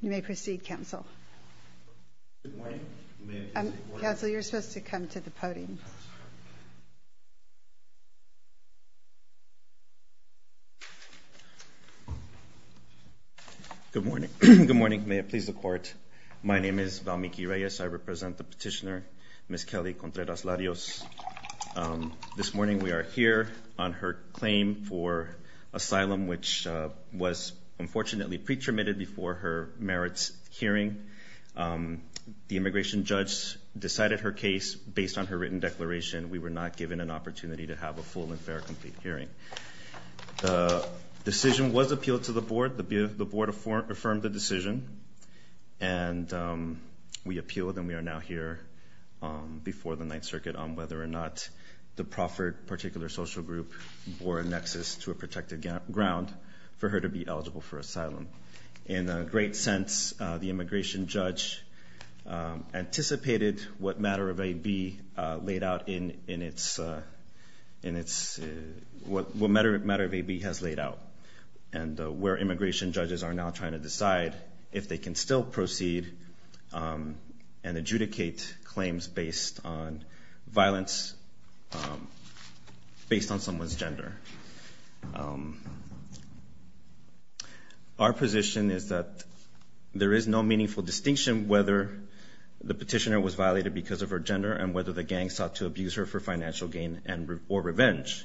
You may proceed, Counsel. Good morning. Counsel, you're supposed to come to the podium. Good morning. Good morning. May it please the Court. My name is Valmiki Reyes. I represent the petitioner, Ms. Kelly Contreras-Larios. This morning we are here on her claim for asylum, which was unfortunately pre-terminated before her merits hearing. The immigration judge decided her case based on her written declaration. We were not given an opportunity to have a full and fair complete hearing. The decision was appealed to the Board. The Board affirmed the decision and we appealed and we are now here before the Ninth Circuit on whether or not the proffered particular social group bore a nexus to a protected ground for her to be eligible for asylum. In a great sense, the immigration judge anticipated what matter of AB laid out in its, what matter of AB has laid out and where immigration judges are now trying to decide if they can still proceed and adjudicate claims based on someone's gender. Our position is that there is no meaningful distinction whether the petitioner was violated because of her gender and whether the gang sought to abuse her for financial gain and or revenge.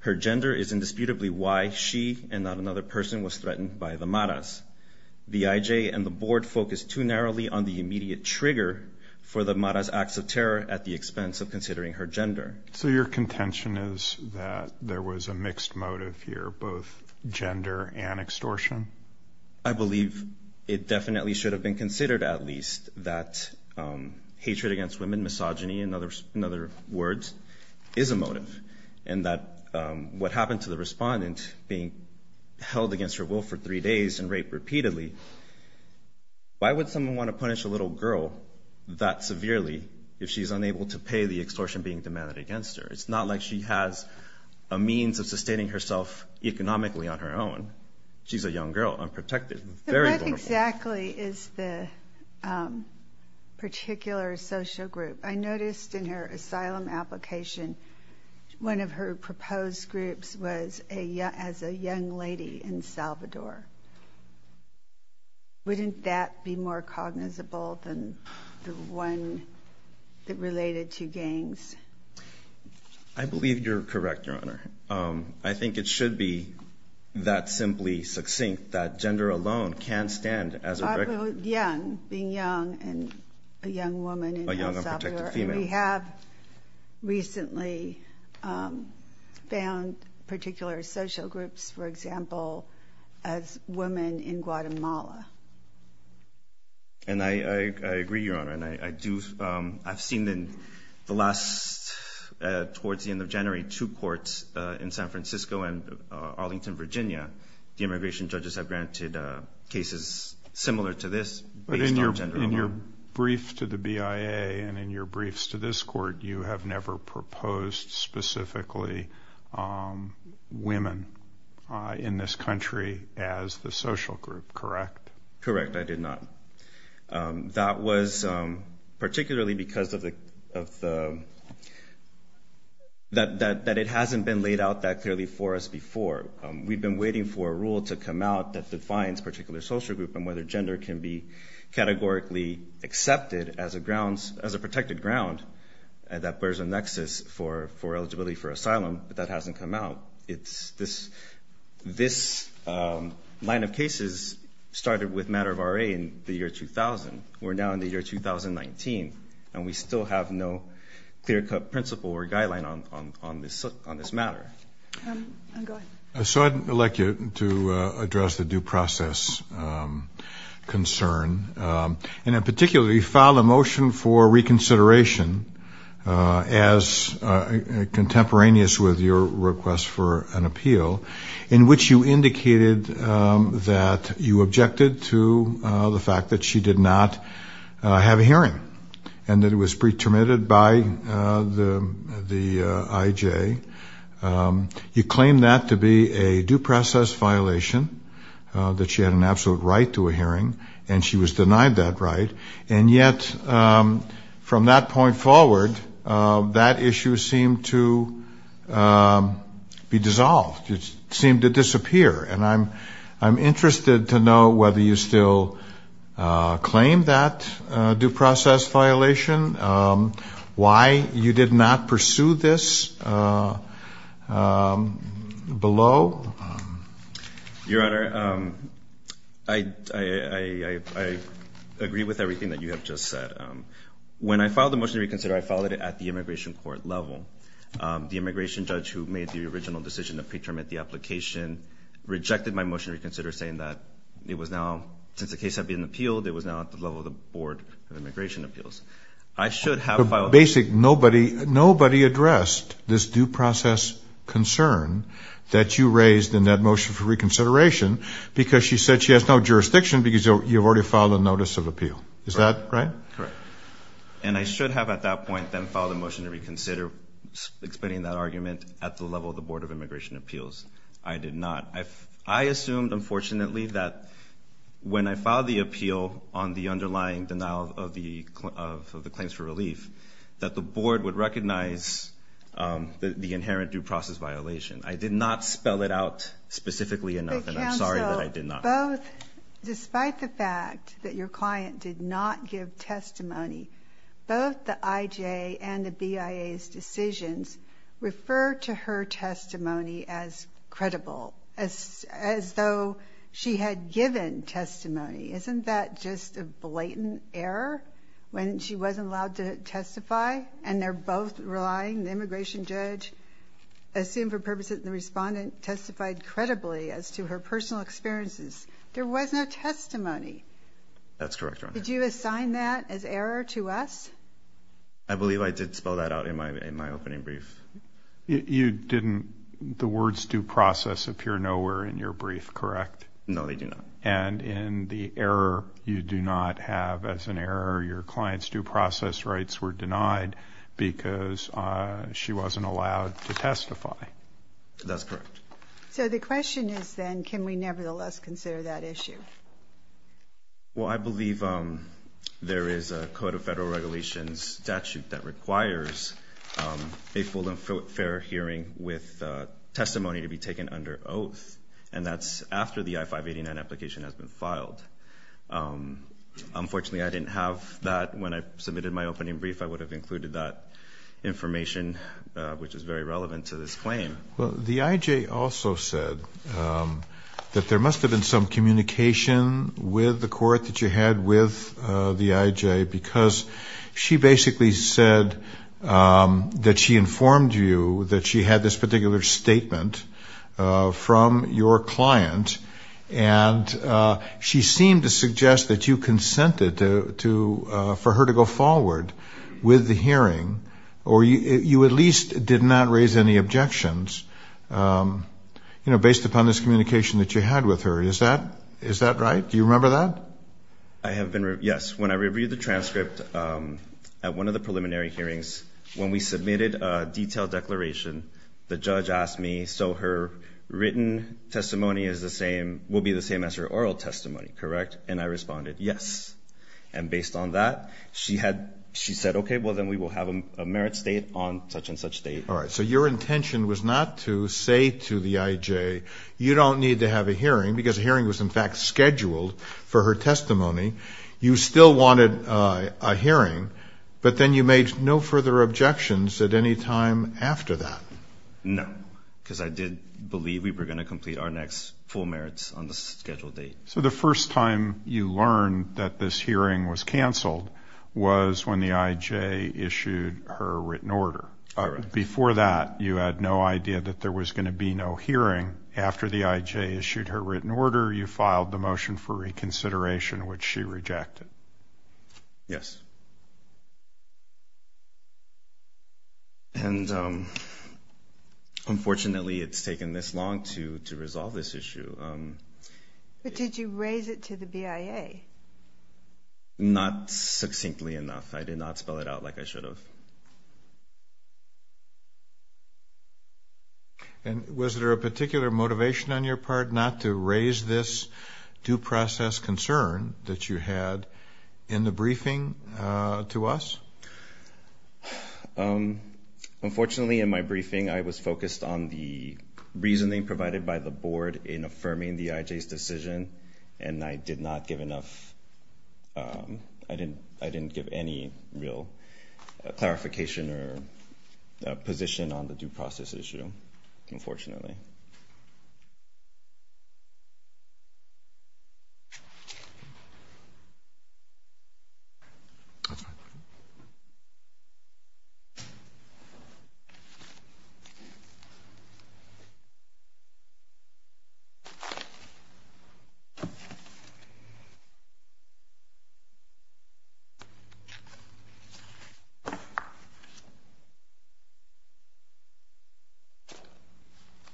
Her gender is indisputably why she and not another person was threatened by the Maras. The IJ and the Board focused too narrowly on the immediate trigger for the Maras acts of terror at the expense of considering her gender. So your contention is that there was a mixed motive here, both gender and extortion? I believe it definitely should have been considered at least that hatred against women, misogyny and other words is a motive and that what happened to the respondent being held against her will for three days and raped repeatedly, why would someone want to punish a little girl that severely if she's unable to pay the extortion being demanded against her? It's not like she has a means of sustaining herself economically on her own. She's a young girl, unprotected, very vulnerable. What exactly is the particular social group? I noticed in her asylum application one of her proposed groups was as a young lady in Salvador. Wouldn't that be more cognizable than the one that related to gangs? I believe you're correct, your honor. I think it should be that simply succinct that gender alone can stand as a young being young and a young woman. We have recently found particular social groups, for example, as women in Guatemala. And I agree, your honor, and I do, I've seen in the last, towards the end of January, two courts in San Francisco and Arlington, Virginia, the immigration judges have granted cases similar to this. But in your brief to the BIA and in your briefs to this women in this country as the social group, correct? Correct, I did not. That was particularly because of the, that it hasn't been laid out that clearly for us before. We've been waiting for a rule to come out that defines particular social group and whether gender can be categorically accepted as a grounds, as a hasn't come out. It's this, this line of cases started with matter of RA in the year 2000. We're now in the year 2019 and we still have no clear-cut principle or guideline on this on this matter. So I'd like you to address the due process concern. And in particular, you filed a motion for reconsideration as contemporaneous with your request for an appeal in which you indicated that you objected to the fact that she did not have a hearing and that it was pre terminated by the IJ. You claim that to be a due process violation, that she had an absolute right to a hearing and she was denied that right. And yet from that point forward, that issue seemed to be dissolved. It seemed to disappear. And I'm, I'm interested to know whether you still claim that due process violation. Why you did not pursue this below. Your Honor, I, I, I, I agree with everything that you have just said. When I filed the motion to reconsider, I followed it at the immigration court level. The immigration judge who made the original decision to pre-term at the application rejected my motion to reconsider saying that it was now, since the case had been appealed, it was now at the level of the Board of Immigration Appeals. I should have filed. Basic, nobody, nobody addressed this due process concern that you raised in that motion for reconsideration because she said she has no jurisdiction because you've already filed a notice of that, right? Correct. And I should have at that point then filed a motion to reconsider explaining that argument at the level of the Board of Immigration Appeals. I did not. I, I assumed unfortunately that when I filed the appeal on the underlying denial of the, of, of the claims for relief, that the board would recognize the, the inherent due process violation. I did not spell it out specifically enough and I'm sorry that I did not. But counsel, both, despite the fact that your client did not give testimony, both the IJ and the BIA's decisions refer to her testimony as credible, as, as though she had given testimony. Isn't that just a blatant error when she wasn't allowed to testify and they're both relying, the immigration judge assumed for purposes of the respondent testified credibly as to her personal experiences. There was no testimony. That's correct. Did you assign that as error to us? I believe I did spell that out in my, in my opening brief. You didn't, the words due process appear nowhere in your brief, correct? No, they do not. And in the error you do not have as an error, your client's due process rights were denied because she wasn't allowed to testify. That's correct. So the question is then, can we nevertheless consider that issue? Well, I there is a Code of Federal Regulations statute that requires a full and fair hearing with testimony to be taken under oath and that's after the I-589 application has been filed. Unfortunately, I didn't have that when I submitted my opening brief. I would have included that information, which is very relevant to this claim. Well, the IJ also said that there must have been some communication with the court that you had with the IJ because she basically said that she informed you that she had this particular statement from your client and she seemed to suggest that you consented to, for her to go forward with the hearing, or you at least did not raise any objections, you know, based upon this communication that you had with her. Is that right? Do you remember that? I have been, yes. When I reviewed the transcript at one of the preliminary hearings, when we submitted a detailed declaration, the judge asked me so her written testimony is the same, will be the same as her oral testimony, correct? And I responded, yes. And based on that, she said, okay, well then we will have a merit state on such-and-such date. All right, so your don't need to have a hearing because a hearing was, in fact, scheduled for her testimony. You still wanted a hearing, but then you made no further objections at any time after that. No, because I did believe we were going to complete our next full merits on the scheduled date. So the first time you learned that this hearing was canceled was when the IJ issued her written order. Before that, you had no idea that there was going to be no hearing. After the IJ issued her written order, you filed the motion for reconsideration, which she rejected. Yes. And unfortunately, it's taken this long to resolve this issue. But did you raise it to the BIA? Not succinctly enough. I did not spell it out like I did. And was there a particular motivation on your part not to raise this due process concern that you had in the briefing to us? Unfortunately, in my briefing, I was focused on the reasoning provided by the board in affirming the IJ's decision, and I did not give enough, I didn't give any real clarification or position on the due process issue, unfortunately.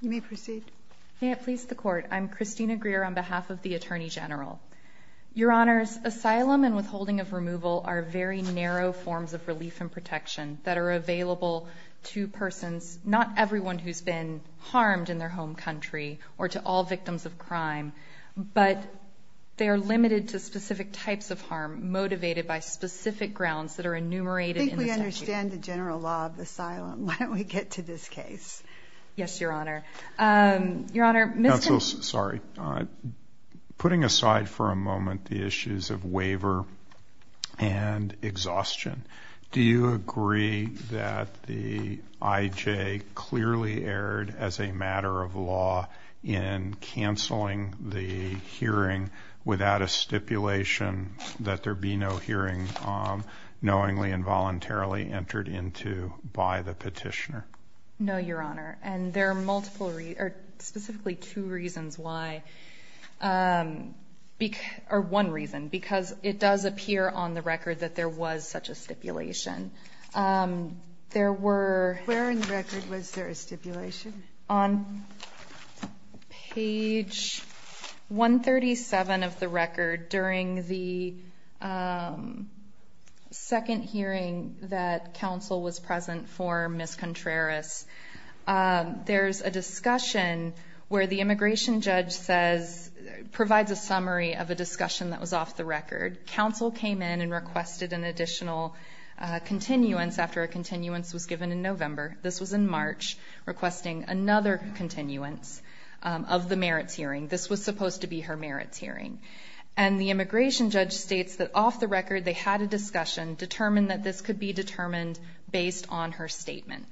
You may proceed. May it please the Court. I'm Christina Greer on behalf of the Attorney General. Your Honors, asylum and withholding of removal are very narrow forms of relief and protection that are available to persons, not everyone who's been harmed in their home country or to all victims of crime, but they are limited to specific types of harm motivated by specific grounds that are limited to specific harm motivated by specific grounds. I understand the general law of asylum. Why don't we get to this case? Yes, Your Honor. Your Honor, Mr. Sorry. Putting aside for a moment the issues of waiver and exhaustion, do you agree that the IJ clearly erred as a matter of law in canceling the hearing without a stipulation that there be no hearing knowingly and voluntarily entered into by the petitioner? No, Your Honor, and there are multiple, or specifically two reasons why, or one reason, because it does appear on the record that there was such a stipulation. There were, where in 37 of the record, during the second hearing that counsel was present for Ms. Contreras, there's a discussion where the immigration judge says, provides a summary of a discussion that was off the record. Counsel came in and requested an additional continuance after a continuance was given in November. This was in March, requesting another continuance of the merits hearing. This was supposed to be her merits hearing, and the immigration judge states that off the record they had a discussion, determined that this could be determined based on her statement.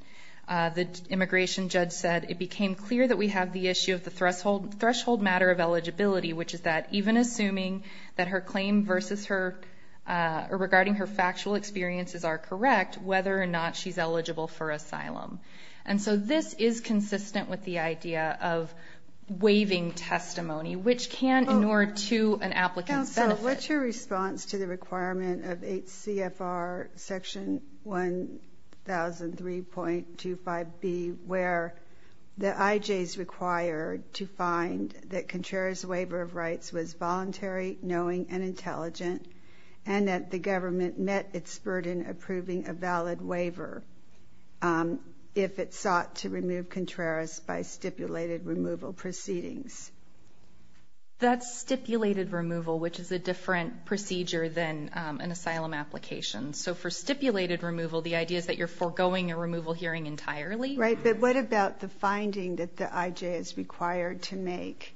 The immigration judge said, it became clear that we have the issue of the threshold matter of eligibility, which is that even assuming that her claim regarding her factual experiences are correct, whether or not she's eligible for asylum. And so this is consistent with the idea of waiving testimony, which can inure to an applicant's benefit. Counsel, what's your response to the requirement of 8 CFR section 1003.25B, where the IJ is required to find that Contreras' waiver of rights was voluntary, knowing, and intelligent, and that the government met its burden approving a by stipulated removal proceedings? That's stipulated removal, which is a different procedure than an asylum application. So for stipulated removal, the idea is that you're foregoing a removal hearing entirely. Right, but what about the finding that the IJ is required to make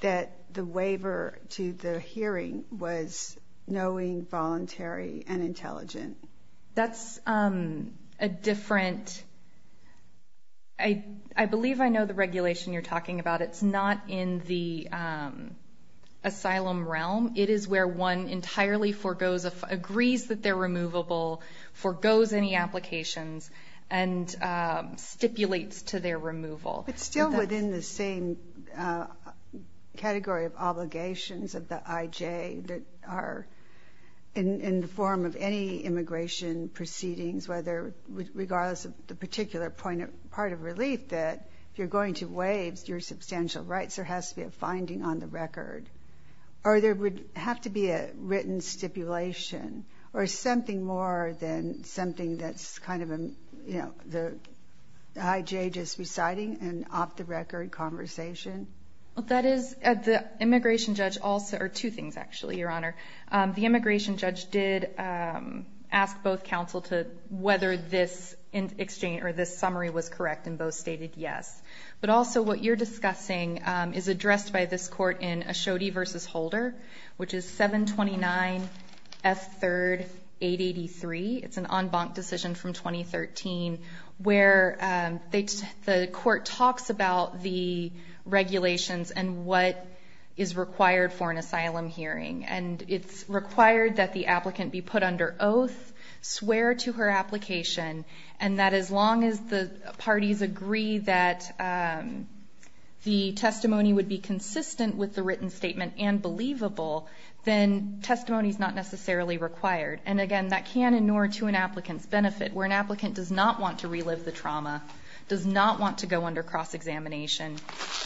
that the waiver to the I believe I know the regulation you're talking about. It's not in the asylum realm. It is where one entirely forgoes, agrees that they're removable, forgoes any applications, and stipulates to their removal. It's still within the same category of obligations of the IJ that are in the form of any immigration proceedings, whether, regardless of the particular point of, part of relief, that you're going to waive your substantial rights, there has to be a finding on the record, or there would have to be a written stipulation, or something more than something that's kind of, you know, the IJ just reciting an off-the-record conversation. Well, that is, the immigration judge also, or two things actually, Your Honor. The immigration judge did ask both counsel to, whether this exchange, or this summary was correct, and both stated yes. But also, what you're discussing is addressed by this court in Ashodee v. Holder, which is 729 F. 3rd 883. It's an en banc decision from 2013, where the court talks about the regulations and what is required for an asylum hearing. And it's required that the applicant be put under oath, swear to her application, and that as long as the parties agree that the testimony would be consistent with the written statement and believable, then testimony is not necessarily required. And again, that can inure to an applicant's benefit, where an applicant does not want to relive the trauma, does not want to go under cross-examination.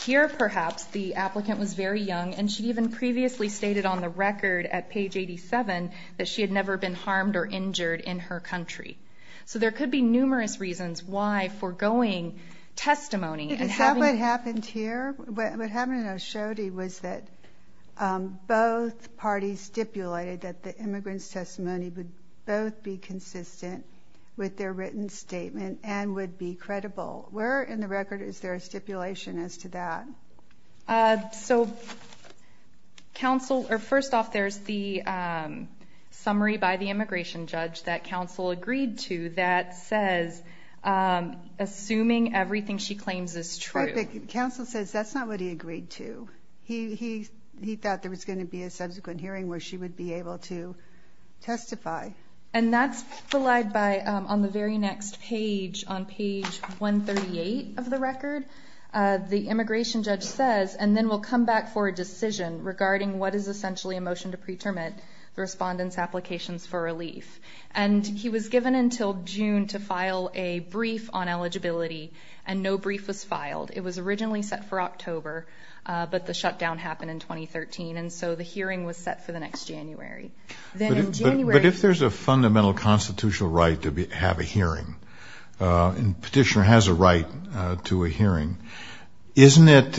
Here, perhaps, the applicant was very young, and she even previously stated on the record, at page 87, that she had never been harmed or injured in her country. So there could be numerous reasons why foregoing testimony and having... Is that what happened here? What happened in Ashodee was that both parties stipulated that the immigrant's testimony would both be consistent with their written statement and would be credible. Where in the counsel... Or first off, there's the summary by the immigration judge that counsel agreed to that says, assuming everything she claims is true. Perfect. Counsel says that's not what he agreed to. He thought there was gonna be a subsequent hearing where she would be able to testify. And that's relied by... On the very next page, on page 138 of the record, the immigration judge says, and then we'll come back for a decision regarding what is essentially a motion to pre-terminate the respondent's applications for relief. And he was given until June to file a brief on eligibility, and no brief was filed. It was originally set for October, but the shutdown happened in 2013, and so the hearing was set for the next January. Then in January... But if there's a fundamental constitutional right to have a hearing, and petitioner has a right to a hearing, isn't it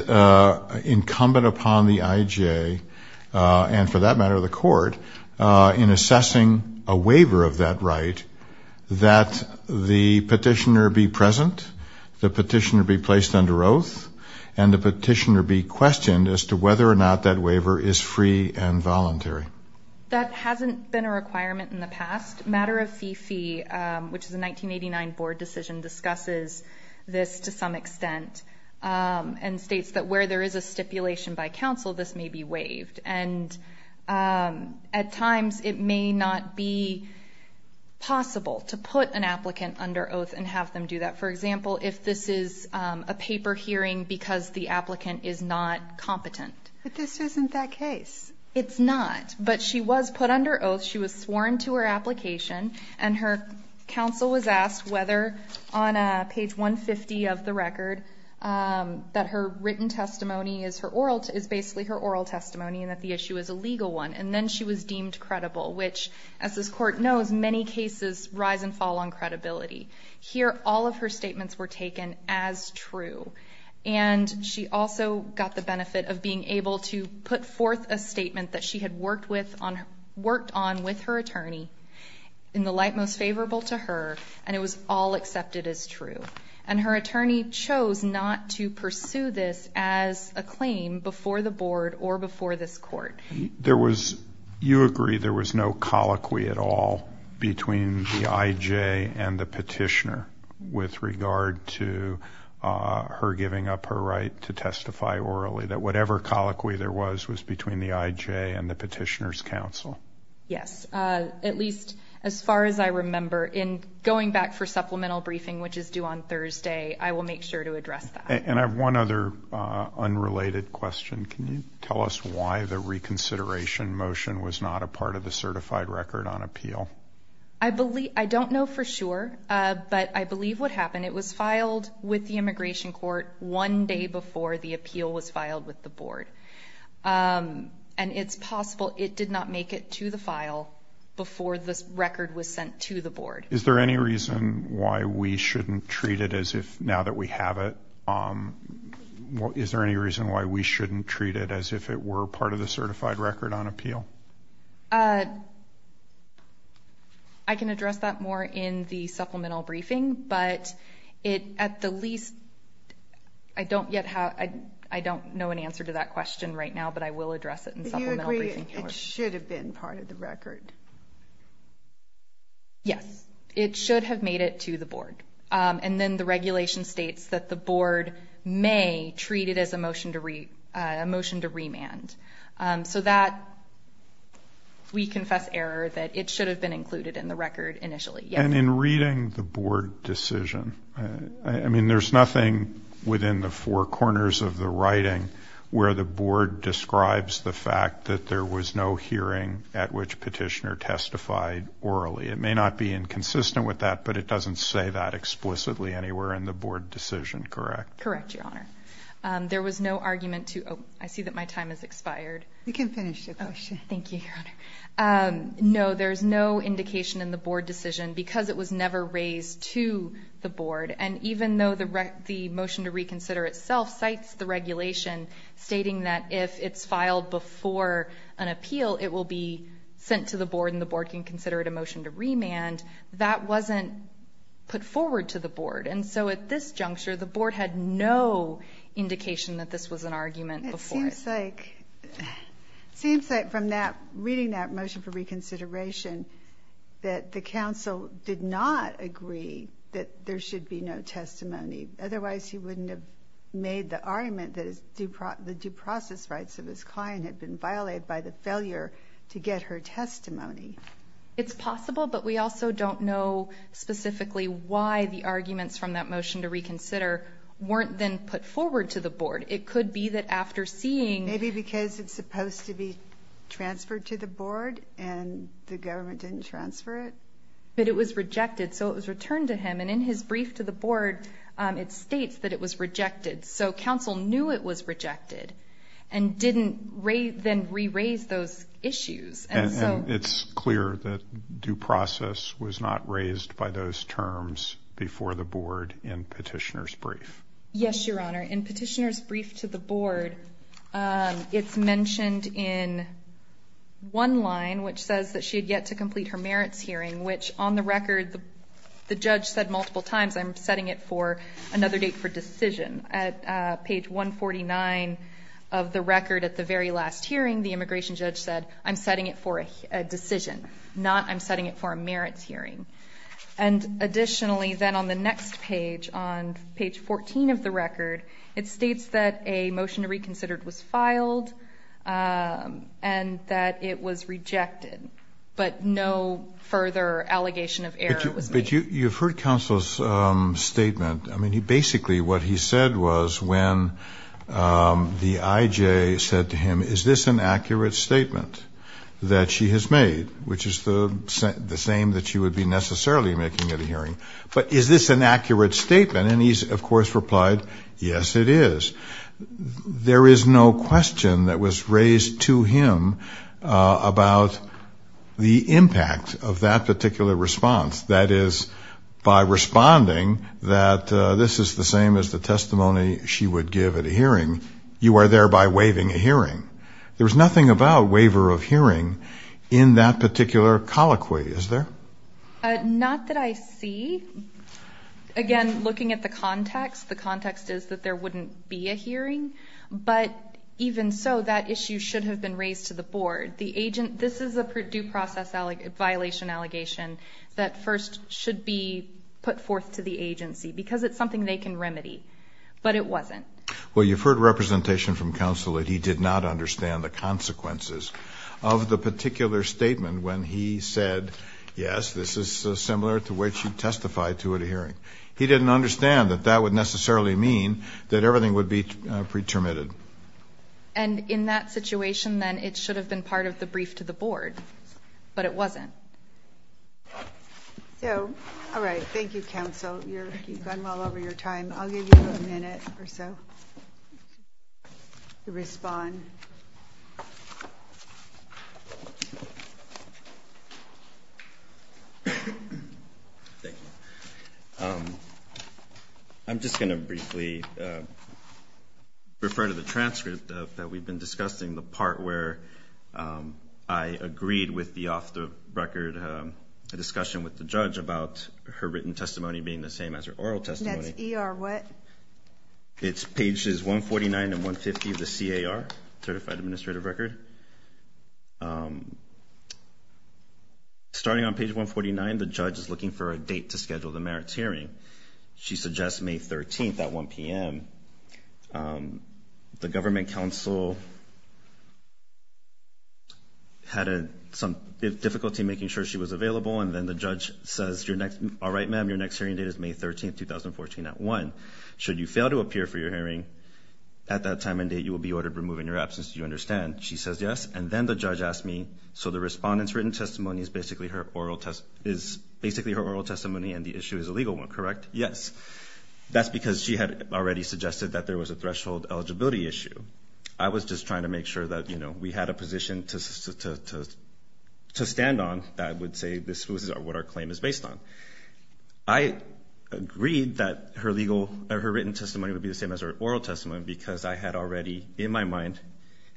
incumbent upon the IGA, and for that matter, the court, in assessing a waiver of that right, that the petitioner be present, the petitioner be placed under oath, and the petitioner be questioned as to whether or not that waiver is free and voluntary? That hasn't been a requirement in the past. Matter of Fee Fee, which is a 1989 board decision, discusses this to some extent, and states that where there is a stipulation by counsel, this may be waived. And at times, it may not be possible to put an applicant under oath and have them do that. For example, if this is a paper hearing because the applicant is not competent. But this isn't that case. It's not, but she was put under oath. She was sworn to her application, and her counsel was asked whether on page 150 of the record, that her written testimony is basically her oral testimony, and that the issue is a legal one. And then she was deemed credible, which, as this court knows, many cases rise and fall on credibility. Here, all of her statements were taken as true. And she also got the benefit of being able to put forth a statement that went on with her attorney in the light most favorable to her, and it was all accepted as true. And her attorney chose not to pursue this as a claim before the board or before this court. You agree there was no colloquy at all between the IJ and the petitioner with regard to her giving up her right to testify orally, that whatever colloquy there was, was between the IJ and the petitioner's testimony? Yes. At least as far as I remember, in going back for supplemental briefing, which is due on Thursday, I will make sure to address that. And I have one other unrelated question. Can you tell us why the reconsideration motion was not a part of the certified record on appeal? I don't know for sure, but I believe what happened, it was filed with the immigration court one day before the appeal was filed with the board. And it's possible it did not make it to the file before this record was sent to the board. Is there any reason why we shouldn't treat it as if now that we have it, is there any reason why we shouldn't treat it as if it were part of the certified record on appeal? I can address that more in the supplemental briefing, but at the least, I don't yet have... I don't know an answer to that question right now, but I will address it in supplemental briefing. Do you agree it should have been part of the record? Yes, it should have made it to the board. And then the regulation states that the board may treat it as a motion to remand. So that, we confess error that it should have been included in the record initially. And in reading the board decision, I mean, there's nothing within the four corners of the writing where the board describes the fact that there was no hearing at which petitioner testified orally. It may not be inconsistent with that, but it doesn't say that explicitly anywhere in the board decision, correct? Correct, Your Honor. There was no argument to... Oh, I see that my time has expired. You can finish your question. Thank you, Your Honor. No, there's no indication in the board decision, because it was never raised to the board. And even though the motion to reconsider itself cites the regulation stating that if it's filed before an appeal, it will be sent to the board and the board can consider it a motion to remand, that wasn't put forward to the board. And so at this juncture, the board had no indication that this was an argument before. It seems like... It seems like from that, reading that motion for reconsideration, that the council did not agree that there should be no testimony. Otherwise, he wouldn't have made the argument that the due process rights of his client had been violated by the failure to get her testimony. It's possible, but we also don't know specifically why the arguments from that motion to reconsider weren't then put forward to the board. It could be that after seeing... Maybe because it's supposed to be a motion, it didn't transfer it. But it was rejected, so it was returned to him. And in his brief to the board, it states that it was rejected. So council knew it was rejected and didn't then re raise those issues. And so... And it's clear that due process was not raised by those terms before the board in petitioner's brief. Yes, Your Honor. In petitioner's brief to the board, it's mentioned in one line, which says that she had yet to complete her merits hearing, which on the record, the judge said multiple times, I'm setting it for another date for decision. At page 149 of the record at the very last hearing, the immigration judge said, I'm setting it for a decision, not I'm setting it for a merits hearing. And additionally, then on the next page, on page 14 of the record, it states that a motion to reconsider it was filed and that it was rejected, but no further allegation of error was made. But you've heard counsel's statement. I mean, he basically... What he said was when the IJ said to him, is this an accurate statement that she has made, which is the same that she would be necessarily making at a hearing? But is this an accurate statement? And he's, of course, replied, yes, it is. There is no question that was raised to him about the impact of that particular response. That is, by responding that this is the same as the testimony she would give at a hearing, you are thereby waiving a hearing. There's nothing about waiver of hearing in that particular colloquy, is there? Not that I see. Again, looking at the context, the context is that there wouldn't be a hearing, but even so, that issue should have been raised to the board. The agent... This is a due process violation allegation that first should be put forth to the agency because it's something they can remedy, but it wasn't. Well, you've heard representation from counsel that he did not understand the consequences of the particular statement when he said, yes, this is similar to what you testified to at a hearing. He didn't understand that that would necessarily mean that everything would be pretermitted. And in that situation, then, it should have been part of the brief to the board, but it wasn't. So, alright, thank you, counsel. You've gone well over your time. I'll give you a minute or so to respond. Thank you. I'm just gonna briefly refer to the transcript that we've been discussing, the part where I agreed with the off the record, a discussion with the judge about her written testimony being the same as her oral testimony. And that's ER what? It's pages 149 and 150 of the CAR, Certified Administrative Record. Starting on page 149, the judge is looking for a date to schedule the merits hearing. She suggests May 13th at 1 p.m. The government counsel had some difficulty making sure she was available, and then the judge says, All right, ma'am, your next hearing date is May 13th, 2014 at 1. Should you fail to appear for your hearing at that time and date, you will be ordered to remove in your absence. Do you understand? She says yes. And then the written testimony is basically her oral testimony and the issue is a legal one, correct? Yes. That's because she had already suggested that there was a threshold eligibility issue. I was just trying to make sure that we had a position to stand on that would say this was what our claim is based on. I agreed that her written testimony would be the same as her oral testimony because I had already, in my mind,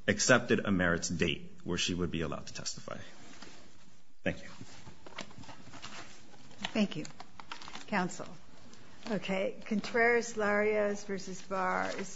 accepted a merits date where she would be allowed to testify. Thank you. Thank you, Counsel. Okay. Contreras, Larios versus Bars.